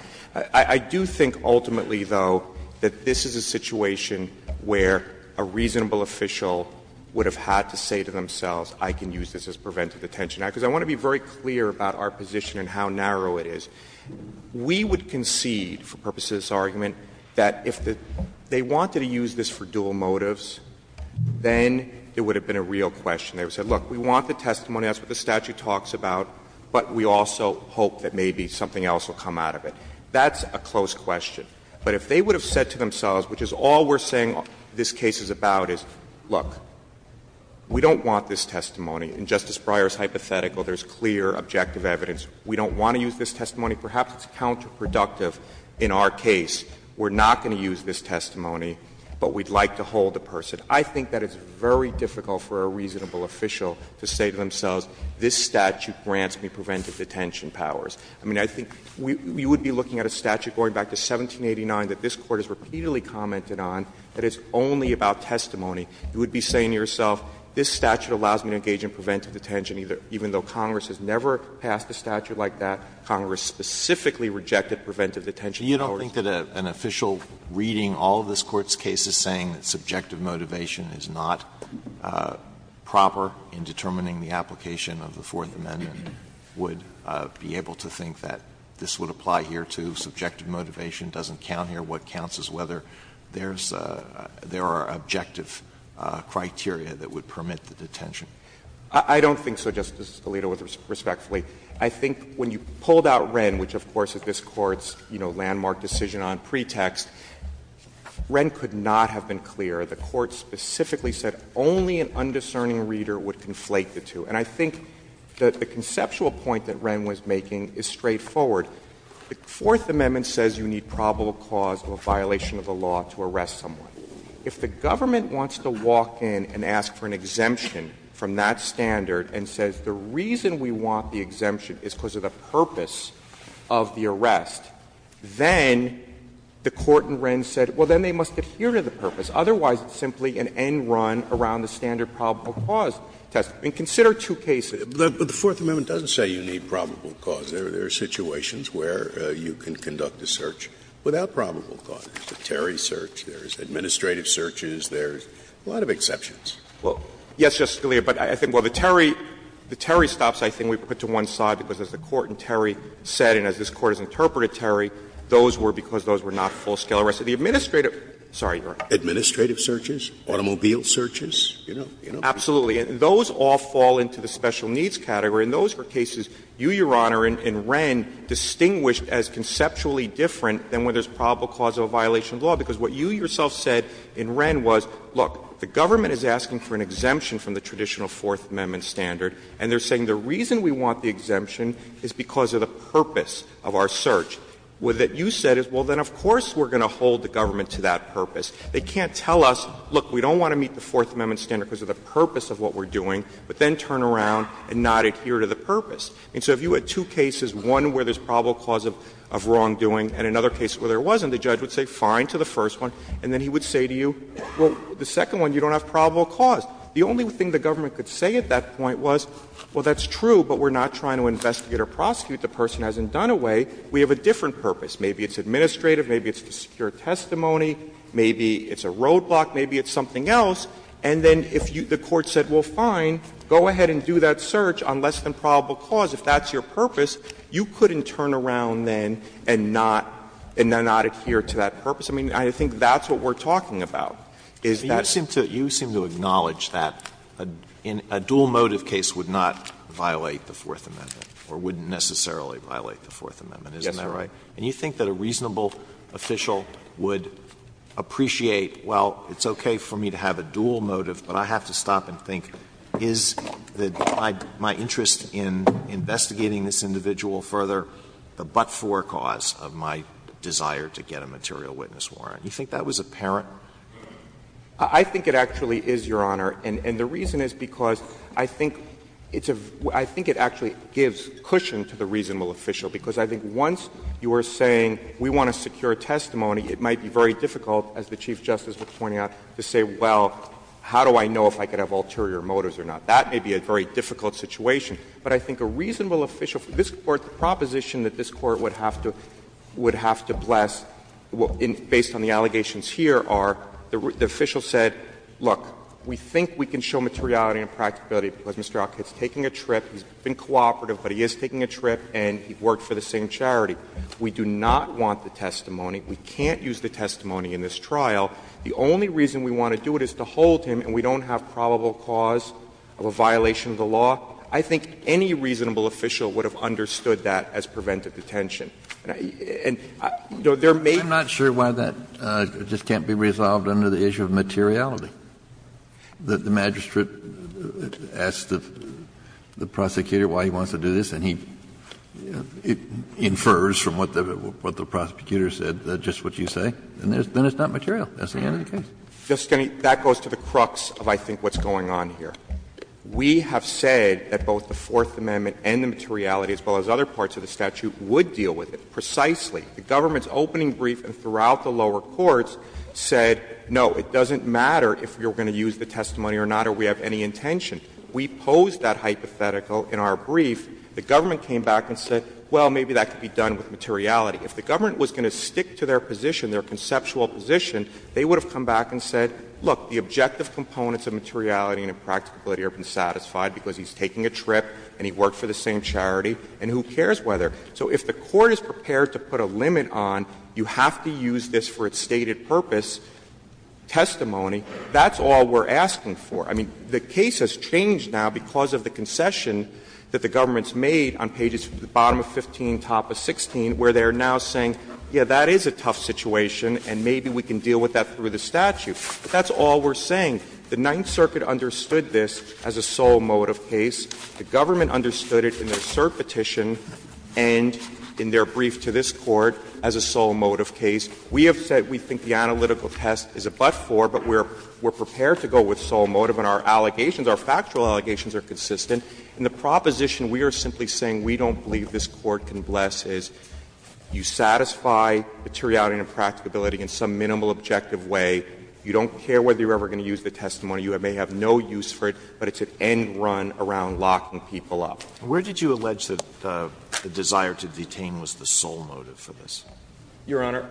I do think ultimately, though, that this is a situation where a reasonable official would have had to say to themselves, I can use this as preventive detention act, because I want to be very clear about our position and how narrow it is. We would concede, for purposes of this argument, that if they wanted to use this for dual motives, then it would have been a real question. They would have said, look, we want the testimony, that's what the statute talks about, but we also hope that maybe something else will come out of it. That's a close question. But if they would have said to themselves, which is all we're saying this case is about, is, look, we don't want this testimony, and Justice Breyer's hypothetical, there's clear, objective evidence, we don't want to use this testimony, perhaps it's counterproductive in our case, we're not going to use this testimony, but we'd like to hold the person. I think that it's very difficult for a reasonable official to say to themselves, this statute grants me preventive detention powers. I mean, I think we would be looking at a statute going back to 1789 that this Court has repeatedly commented on that is only about testimony. You would be saying to yourself, this statute allows me to engage in preventive detention even though Congress has never passed a statute like that, Congress specifically rejected preventive detention powers. Alito, you don't think that an official reading all of this Court's cases saying that subjective motivation is not proper in determining the application of the Fourth Amendment would be able to think that this would apply here, too, subjective motivation doesn't count here, what counts is whether there's a – there are objective criteria that would permit the detention? I don't think so, Justice Alito, respectfully. I think when you pulled out Wren, which of course is this Court's, you know, landmark decision on pretext, Wren could not have been clear. The Court specifically said only an undiscerning reader would conflate the two. And I think that the conceptual point that Wren was making is straightforward. The Fourth Amendment says you need probable cause of a violation of the law to arrest someone. If the government wants to walk in and ask for an exemption from that standard and says the reason we want the exemption is because of the purpose of the arrest, then the Court in Wren said, well, then they must adhere to the purpose. Otherwise, it's simply an end run around the standard probable cause test. And consider two cases. Scalia, but the Fourth Amendment doesn't say you need probable cause. There are situations where you can conduct a search without probable cause. There's the Terry search, there's administrative searches, there's a lot of exceptions. Well, yes, Justice Scalia, but I think, well, the Terry – the Terry stops, I think, we put to one side, because as the Court in Terry said and as this Court has interpreted Terry, those were because those were not full-scale arrests. The administrative – sorry, Your Honor. Administrative searches, automobile searches, you know, you know. Absolutely. And those all fall into the special needs category, and those were cases you, Your Honor, in Wren distinguished as conceptually different than where there's probable cause of a violation of the law, because what you yourself said in Wren was, look, the government is asking for an exemption from the traditional Fourth Amendment standard, and they're saying the reason we want the exemption is because of the purpose of our search. What you said is, well, then of course we're going to hold the government to that purpose. They can't tell us, look, we don't want to meet the Fourth Amendment standard because of the purpose of what we're doing, but then turn around and not adhere to the purpose. And so if you had two cases, one where there's probable cause of wrongdoing and another case where there wasn't, the judge would say fine to the first one, and then he would say to you, well, the second one, you don't have probable cause. The only thing the government could say at that point was, well, that's true, but we're not trying to investigate or prosecute the person who hasn't done away. We have a different purpose. Maybe it's administrative, maybe it's a secure testimony, maybe it's a roadblock, maybe it's something else. And then if the Court said, well, fine, go ahead and do that search on less than probable cause, if that's your purpose, you couldn't turn around then and not adhere to that purpose. I mean, I think that's what we're talking about, is that it's not. Alito, the dual motive case would not violate the Fourth Amendment, or wouldn't necessarily violate the Fourth Amendment, isn't that right? And you think that a reasonable official would appreciate, well, it's okay for me to have a dual motive, but I have to stop and think, is my interest in investigating this individual further the but-for cause of my desire to get a material witness warrant? You think that was apparent? I think it actually is, Your Honor. And the reason is because I think it's a — I think it actually gives cushion to the reasonable official, because I think once you are saying we want a secure testimony, it might be very difficult, as the Chief Justice was pointing out, to say, well, how do I know if I could have ulterior motives or not? That may be a very difficult situation. But I think a reasonable official for this Court, the proposition that this Court would have to — would have to bless, based on the allegations here, are the official said, look, we think we can show materiality and practicability because Mr. Alkit's taking a trip, he's been cooperative, but he is taking a trip, and he worked for the same charity. We do not want the testimony. We can't use the testimony in this trial. The only reason we want to do it is to hold him, and we don't have probable cause of a violation of the law. I think any reasonable official would have understood that as preventive detention. And there may be — Kennedy I'm not sure why that just can't be resolved under the issue of materiality. The magistrate asks the prosecutor why he wants to do this, and he infers from what the prosecutor said, just what you say, and then it's not material. That's the end of the case. Verrilli, that goes to the crux of I think what's going on here. We have said that both the Fourth Amendment and the materiality, as well as other parts of the statute, would deal with it precisely. The government's opening brief throughout the lower courts said, no, it doesn't matter if you're going to use the testimony or not, or we have any intention. We posed that hypothetical in our brief. The government came back and said, well, maybe that could be done with materiality. If the government was going to stick to their position, their conceptual position, they would have come back and said, look, the objective components of materiality and impracticability have been satisfied because he's taking a trip and he worked for the same charity, and who cares whether. So if the Court is prepared to put a limit on, you have to use this for its stated purpose, testimony, that's all we're asking for. I mean, the case has changed now because of the concession that the government has made on pages, the bottom of 15, top of 16, where they are now saying, yes, that is a tough situation and maybe we can deal with that through the statute. That's all we're saying. The Ninth Circuit understood this as a sole motive case. The government understood it in their cert petition and in their brief to this Court as a sole motive case. We have said we think the analytical test is a but-for, but we're prepared to go with sole motive and our allegations, our factual allegations are consistent. And the proposition we are simply saying we don't believe this Court can bless is you satisfy materiality and impracticability in some minimal objective way, you don't care whether you're ever going to use the testimony, you may have no use for it, but it's an end-run around locking people up. Alitoso Where did you allege that the desire to detain was the sole motive for this? Clement Your Honor,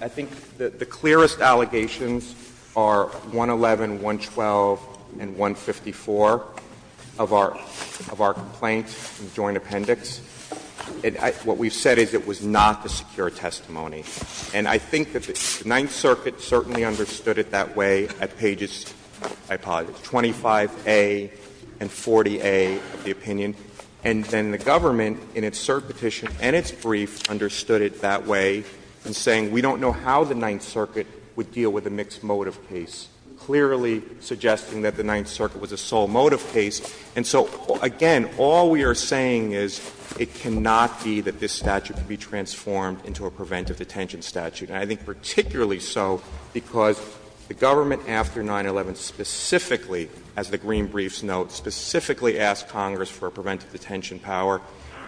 I think the clearest allegations are 111, 112, and 154 of our complaint in the joint appendix. What we've said is it was not the secure testimony. And I think that the Ninth Circuit certainly understood it that way at pages, I apologize, 25A and 40A of the opinion. And then the government in its cert petition and its brief understood it that way in saying we don't know how the Ninth Circuit would deal with a mixed motive case, clearly suggesting that the Ninth Circuit was a sole motive case. And so, again, all we are saying is it cannot be that this statute could be transformed into a preventive detention statute, and I think particularly so because the government after 9-11 specifically, as the green briefs note, specifically asked Congress for a preventive detention power,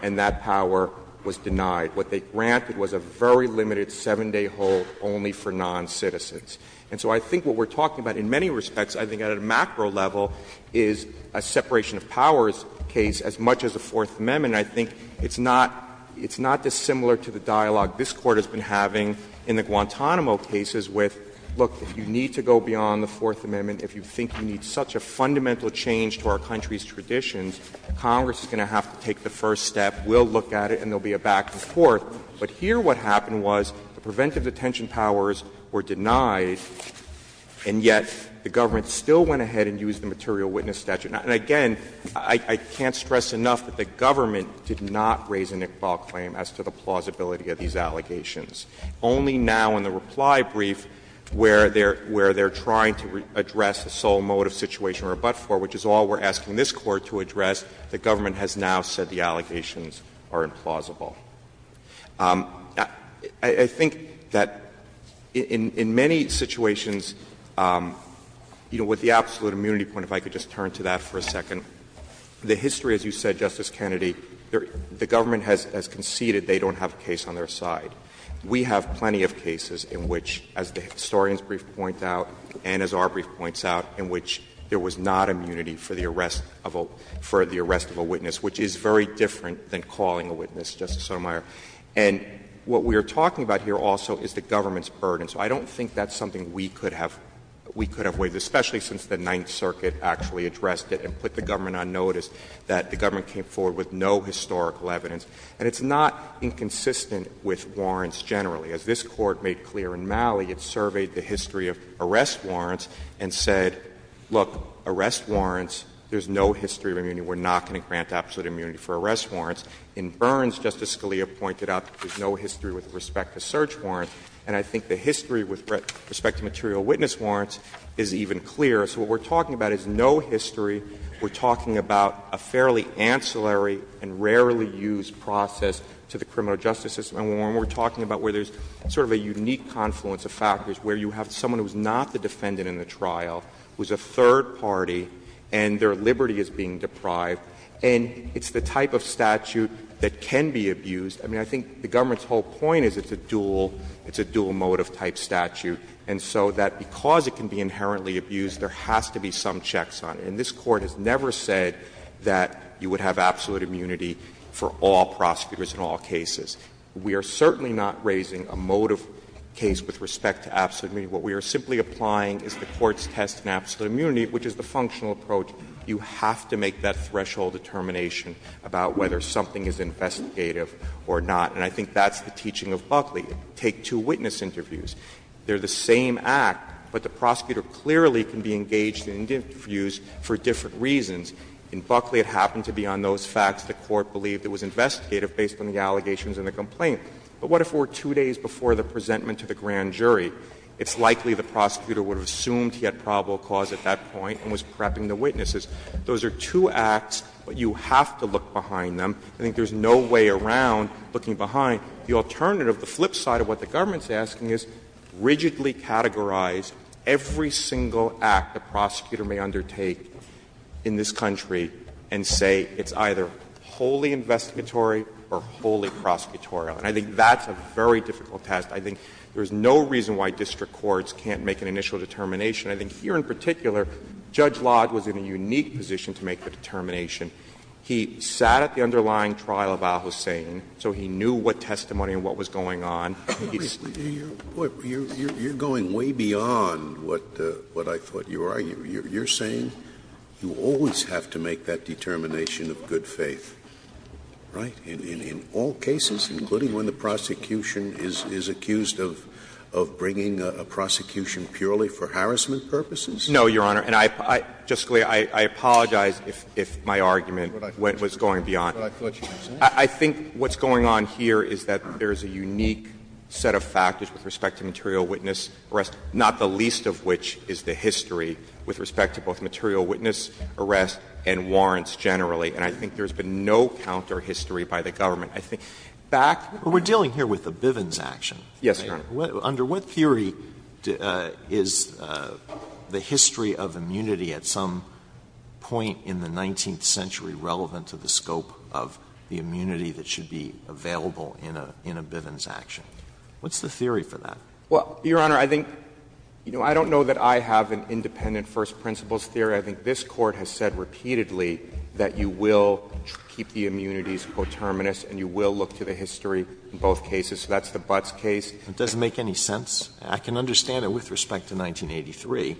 and that power was denied. What they granted was a very limited 7-day hold only for noncitizens. And so I think what we're talking about in many respects, I think at a macro level, is a separation of powers case as much as a Fourth Amendment. And I think it's not dissimilar to the dialogue this Court has been having in the Guantanamo cases with, look, if you need to go beyond the Fourth Amendment, if you think you need such a fundamental change to our country's traditions, Congress is going to have to take the first step, we'll look at it, and there will be a back and forth. But here what happened was the preventive detention powers were denied, and yet the government still went ahead and used the material witness statute. And again, I can't stress enough that the government did not raise a Nickball claim as to the plausibility of these allegations. Only now in the reply brief where they're trying to address the sole motive situation or but-for, which is all we're asking this Court to address, the government has now said the allegations are implausible. I think that in many situations, you know, with the absolute immunity point, if I could just turn to that for a second, the history, as you said, Justice Kennedy, the government has conceded they don't have a case on their side. We have plenty of cases in which, as the historian's brief points out, and as our brief points out, in which there was not immunity for the arrest of a witness, which is very different than calling a witness, Justice Sotomayor. And what we are talking about here also is the government's burden. So I don't think that's something we could have waived, especially since the Ninth Circuit actually addressed it and put the government on notice that the government came forward with no historical evidence. And it's not inconsistent with warrants generally. As this Court made clear in Malley, it surveyed the history of arrest warrants and said, look, arrest warrants, there's no history of immunity. We're not going to grant absolute immunity for arrest warrants. In Burns, Justice Scalia pointed out there's no history with respect to search warrants. And I think the history with respect to material witness warrants is even clearer. So what we're talking about is no history. We're talking about a fairly ancillary and rarely used process to the criminal justice system. And we're talking about where there's sort of a unique confluence of factors, where you have someone who's not the defendant in the trial, who's a third party, and their liberty is being deprived. And it's the type of statute that can be abused. I mean, I think the government's whole point is it's a dual — it's a dual motive type statute. And so that because it can be inherently abused, there has to be some checks on it. And this Court has never said that you would have absolute immunity for all prosecutors in all cases. We are certainly not raising a motive case with respect to absolute immunity. What we are simply applying is the Court's test in absolute immunity, which is the functional approach. You have to make that threshold determination about whether something is investigative or not. And I think that's the teaching of Buckley. Take two witness interviews. They're the same act, but the prosecutor clearly can be engaged in interviews for different reasons. In Buckley, it happened to be on those facts the Court believed it was investigative based on the allegations in the complaint. But what if it were two days before the presentment to the grand jury? It's likely the prosecutor would have assumed he had probable cause at that point and was prepping the witnesses. Those are two acts, but you have to look behind them. I think there's no way around looking behind. The alternative, the flip side of what the government is asking, is rigidly categorize every single act a prosecutor may undertake in this country and say it's either wholly investigatory or wholly prosecutorial. And I think that's a very difficult test. I think there's no reason why district courts can't make an initial determination. I think here in particular, Judge Lodd was in a unique position to make the determination. He sat at the underlying trial of al-Hussein, so he knew what testimony and what was going on. Scalia, you're going way beyond what I thought you were. You're saying you always have to make that determination of good faith, right, in all cases, including when the prosecution is accused of bringing a prosecution purely for harassment purposes? No, Your Honor. And I, Justice Scalia, I apologize if my argument was going beyond that. I think what's going on here is that there's a unique set of factors with respect to material witness arrest, not the least of which is the history with respect to both material witness arrest and warrants generally. And I think there's been no counter-history by the government. I think back to the case of the Bivens case, under what theory is the history of the immunity at some point in the 19th century relevant to the scope of the immunity that should be available in a Bivens action? What's the theory for that? Well, Your Honor, I think you know, I don't know that I have an independent first principles theory. I think this Court has said repeatedly that you will keep the immunities coterminous and you will look to the history in both cases. So that's the Butts case. It doesn't make any sense. I can understand it with respect to 1983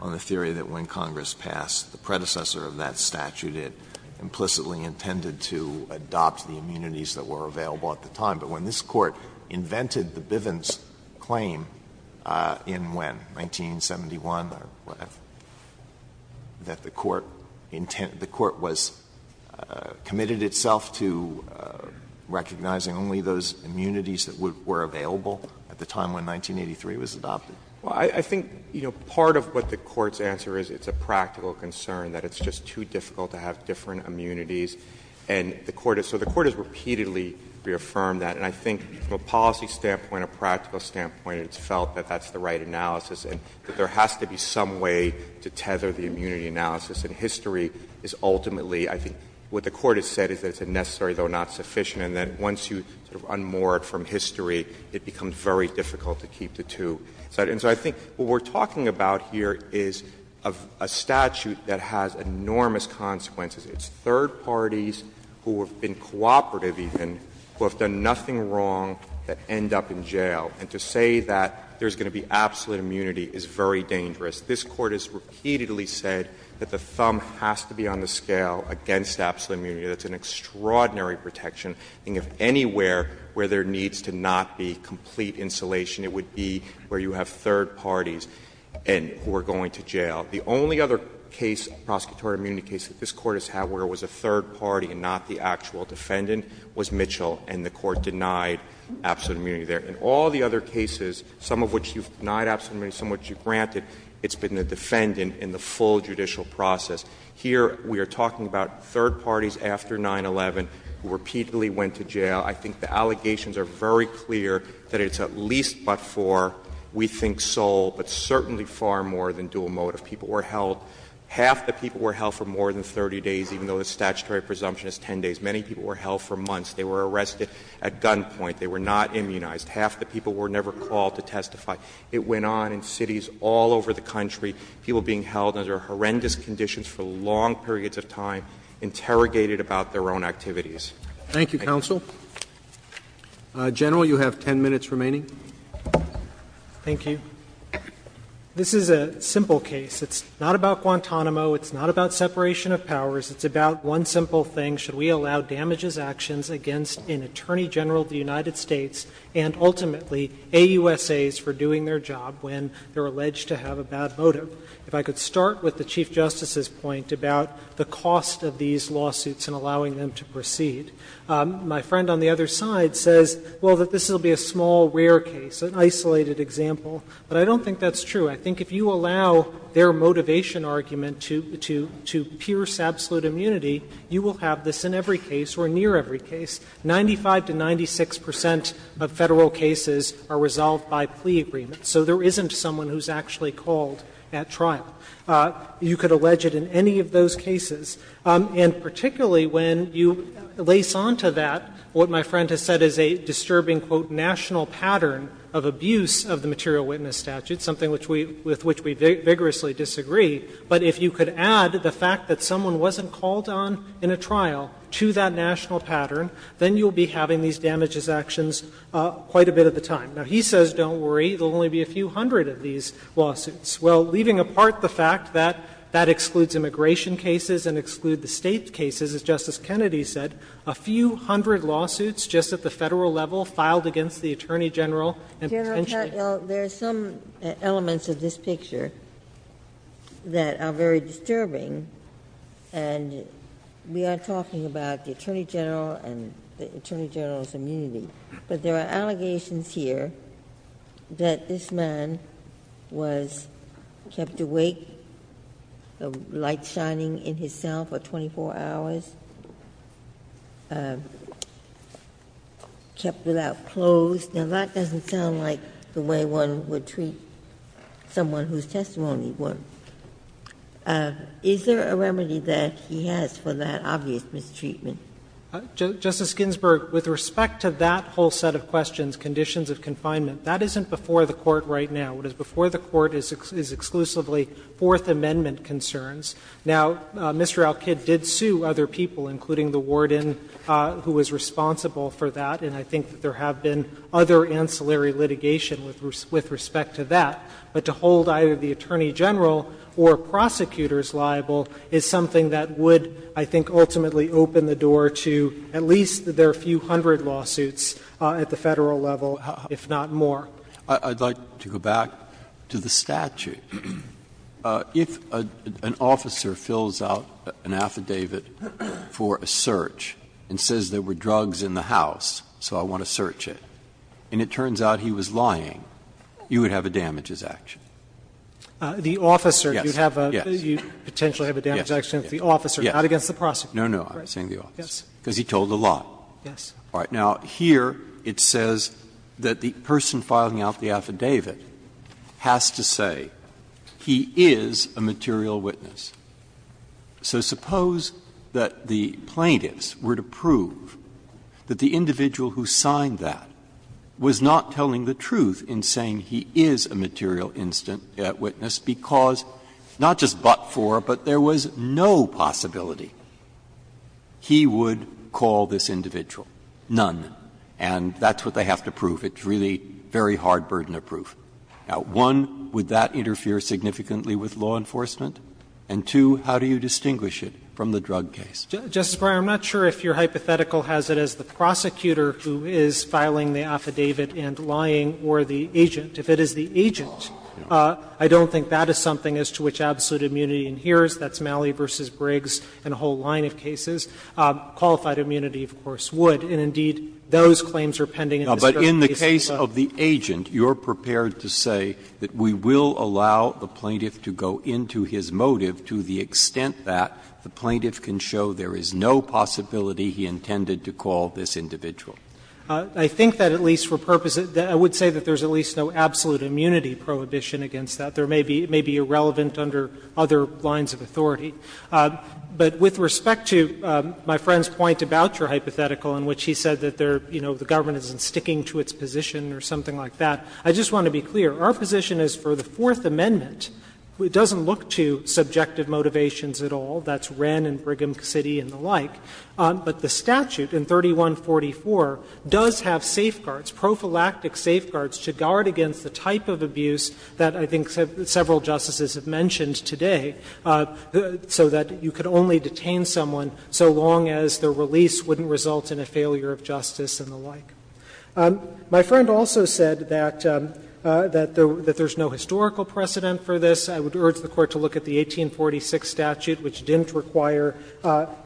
on the theory that when Congress passed the predecessor of that statute, it implicitly intended to adopt the immunities that were available at the time. But when this Court invented the Bivens claim in when, 1971 or whatever, that the Court intended the Court was committed itself to recognizing only those immunities that were available at the time when 1983 was adopted. Well, I think, you know, part of what the Court's answer is, it's a practical concern that it's just too difficult to have different immunities. And the Court has repeatedly reaffirmed that. And I think from a policy standpoint, a practical standpoint, it's felt that that's the right analysis and that there has to be some way to tether the immunity analysis. And history is ultimately, I think, what the Court has said is that it's unnecessary, though not sufficient. And that once you sort of unmoor it from history, it becomes very difficult to keep the two. And so I think what we're talking about here is a statute that has enormous consequences. It's third parties who have been cooperative, even, who have done nothing wrong, that end up in jail. And to say that there's going to be absolute immunity is very dangerous. This Court has repeatedly said that the thumb has to be on the scale against absolute immunity. That's an extraordinary protection. I think if anywhere where there needs to not be complete insulation, it would be where you have third parties who are going to jail. The only other case, prosecutorial immunity case, that this Court has had where it was a third party and not the actual defendant was Mitchell, and the Court denied absolute immunity there. In all the other cases, some of which you've denied absolute immunity, some of which you've granted, it's been the defendant in the full judicial process. Here we are talking about third parties after 9-11 who repeatedly went to jail. I think the allegations are very clear that it's at least but for, we think, sole, but certainly far more than dual motive. People were held, half the people were held for more than 30 days, even though the statutory presumption is 10 days. Many people were held for months. They were arrested at gunpoint. They were not immunized. Half the people were never called to testify. It went on in cities all over the country, people being held under horrendous conditions for long periods of time, interrogated about their own activities. Roberts. Thank you, counsel. General, you have 10 minutes remaining. Thank you. This is a simple case. It's not about Guantanamo. It's not about separation of powers. It's about one simple thing. Should we allow damages actions against an attorney general of the United States and ultimately AUSAs for doing their job when they're alleged to have a bad motive? If I could start with the Chief Justice's point about the cost of these lawsuits in allowing them to proceed. My friend on the other side says, well, that this will be a small, rare case, an isolated example. But I don't think that's true. I think if you allow their motivation argument to pierce absolute immunity, you will have this in every case or near every case. 95 to 96 percent of Federal cases are resolved by plea agreements. So there isn't someone who's actually called at trial. You could allege it in any of those cases. And particularly when you lace onto that what my friend has said is a disturbing, quote, ''national pattern of abuse'' of the material witness statute, something with which we vigorously disagree. But if you could add the fact that someone wasn't called on in a trial to that national pattern, then you'll be having these damages actions quite a bit of the time. Now, he says don't worry. There will only be a few hundred of these lawsuits. Well, leaving apart the fact that that excludes immigration cases and excludes the State cases, as Justice Kennedy said, a few hundred lawsuits just at the Federal level filed against the Attorney General and potentially Ginsburg. There are some elements of this picture that are very disturbing, and we are talking about the Attorney General and the Attorney General's immunity. But there are allegations here that this man was kept awake, the light shining in his cell for 24 hours, kept without clothes. Now, that doesn't sound like the way one would treat someone whose testimony was. Is there a remedy that he has for that obvious mistreatment? Justice Ginsburg, with respect to that whole set of questions, conditions of confinement, that isn't before the Court right now. What is before the Court is exclusively Fourth Amendment concerns. Now, Mr. Alkid did sue other people, including the warden who was responsible for that, and I think that there have been other ancillary litigation with respect to that. But to hold either the Attorney General or prosecutors liable is something that would, I think, ultimately open the door to at least their few hundred lawsuits at the Federal level, if not more. Breyer, I'd like to go back to the statute. If an officer fills out an affidavit for a search and says there were drugs in the house, so I want to search it, and it turns out he was lying, you would have a damages action. The officer, you'd have a, you'd potentially have a damages action if the officer is not against the prosecutor. Breyer, no, no, I'm saying the officer, because he told the law. Yes. All right. Now, here it says that the person filing out the affidavit has to say he is a material witness. So suppose that the plaintiffs were to prove that the individual who signed that was not telling the truth in saying he is a material witness because, not just but there was no possibility he would call this individual, none. And that's what they have to prove. It's really very hard burden of proof. Now, one, would that interfere significantly with law enforcement? And two, how do you distinguish it from the drug case? Justice Breyer, I'm not sure if your hypothetical has it as the prosecutor or the agent. If it is the agent, I don't think that is something as to which absolute immunity inheres. That's Malley v. Briggs and a whole line of cases. Qualified immunity, of course, would. And indeed, those claims are pending in this drug case as well. Breyer, but in the case of the agent, you're prepared to say that we will allow the plaintiff to go into his motive to the extent that the plaintiff can show there is no possibility he intended to call this individual. I think that at least for purposes of that, I would say that there's at least no absolute immunity prohibition against that. There may be irrelevant under other lines of authority. But with respect to my friend's point about your hypothetical in which he said that there, you know, the government isn't sticking to its position or something like that, I just want to be clear. Our position is for the Fourth Amendment, it doesn't look to subjective motivations at all. That's Wren and Brigham City and the like. But the statute in 3144 does have safeguards, prophylactic safeguards to guard against the type of abuse that I think several justices have mentioned today, so that you could only detain someone so long as their release wouldn't result in a failure of justice and the like. My friend also said that there's no historical precedent for this. I would urge the Court to look at the 1846 statute, which didn't require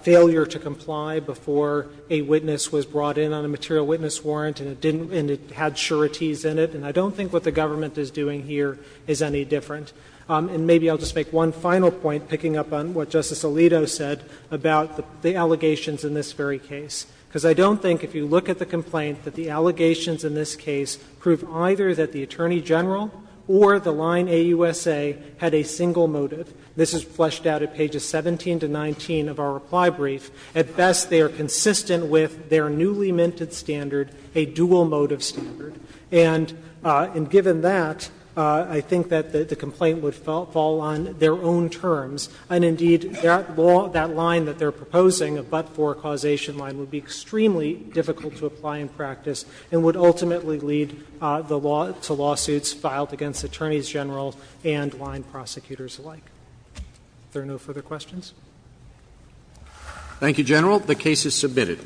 failure to comply before a witness was brought in on a material witness warrant and it didn't and it had sureties in it. And I don't think what the government is doing here is any different. And maybe I'll just make one final point, picking up on what Justice Alito said about the allegations in this very case, because I don't think if you look at the complaint that the allegations in this case prove either that the Attorney General or the line AUSA had a single motive, this is fleshed out at pages 17 to 19 of our reply brief, at best they are consistent with their newly minted standard, a dual motive standard. And given that, I think that the complaint would fall on their own terms, and indeed, that law, that line that they're proposing, a but-for causation line, would be extremely difficult to apply in practice and would ultimately lead the law to lawsuits filed against Attorneys General and line prosecutors alike. If there are no further questions? Thank you, General. The case is submitted.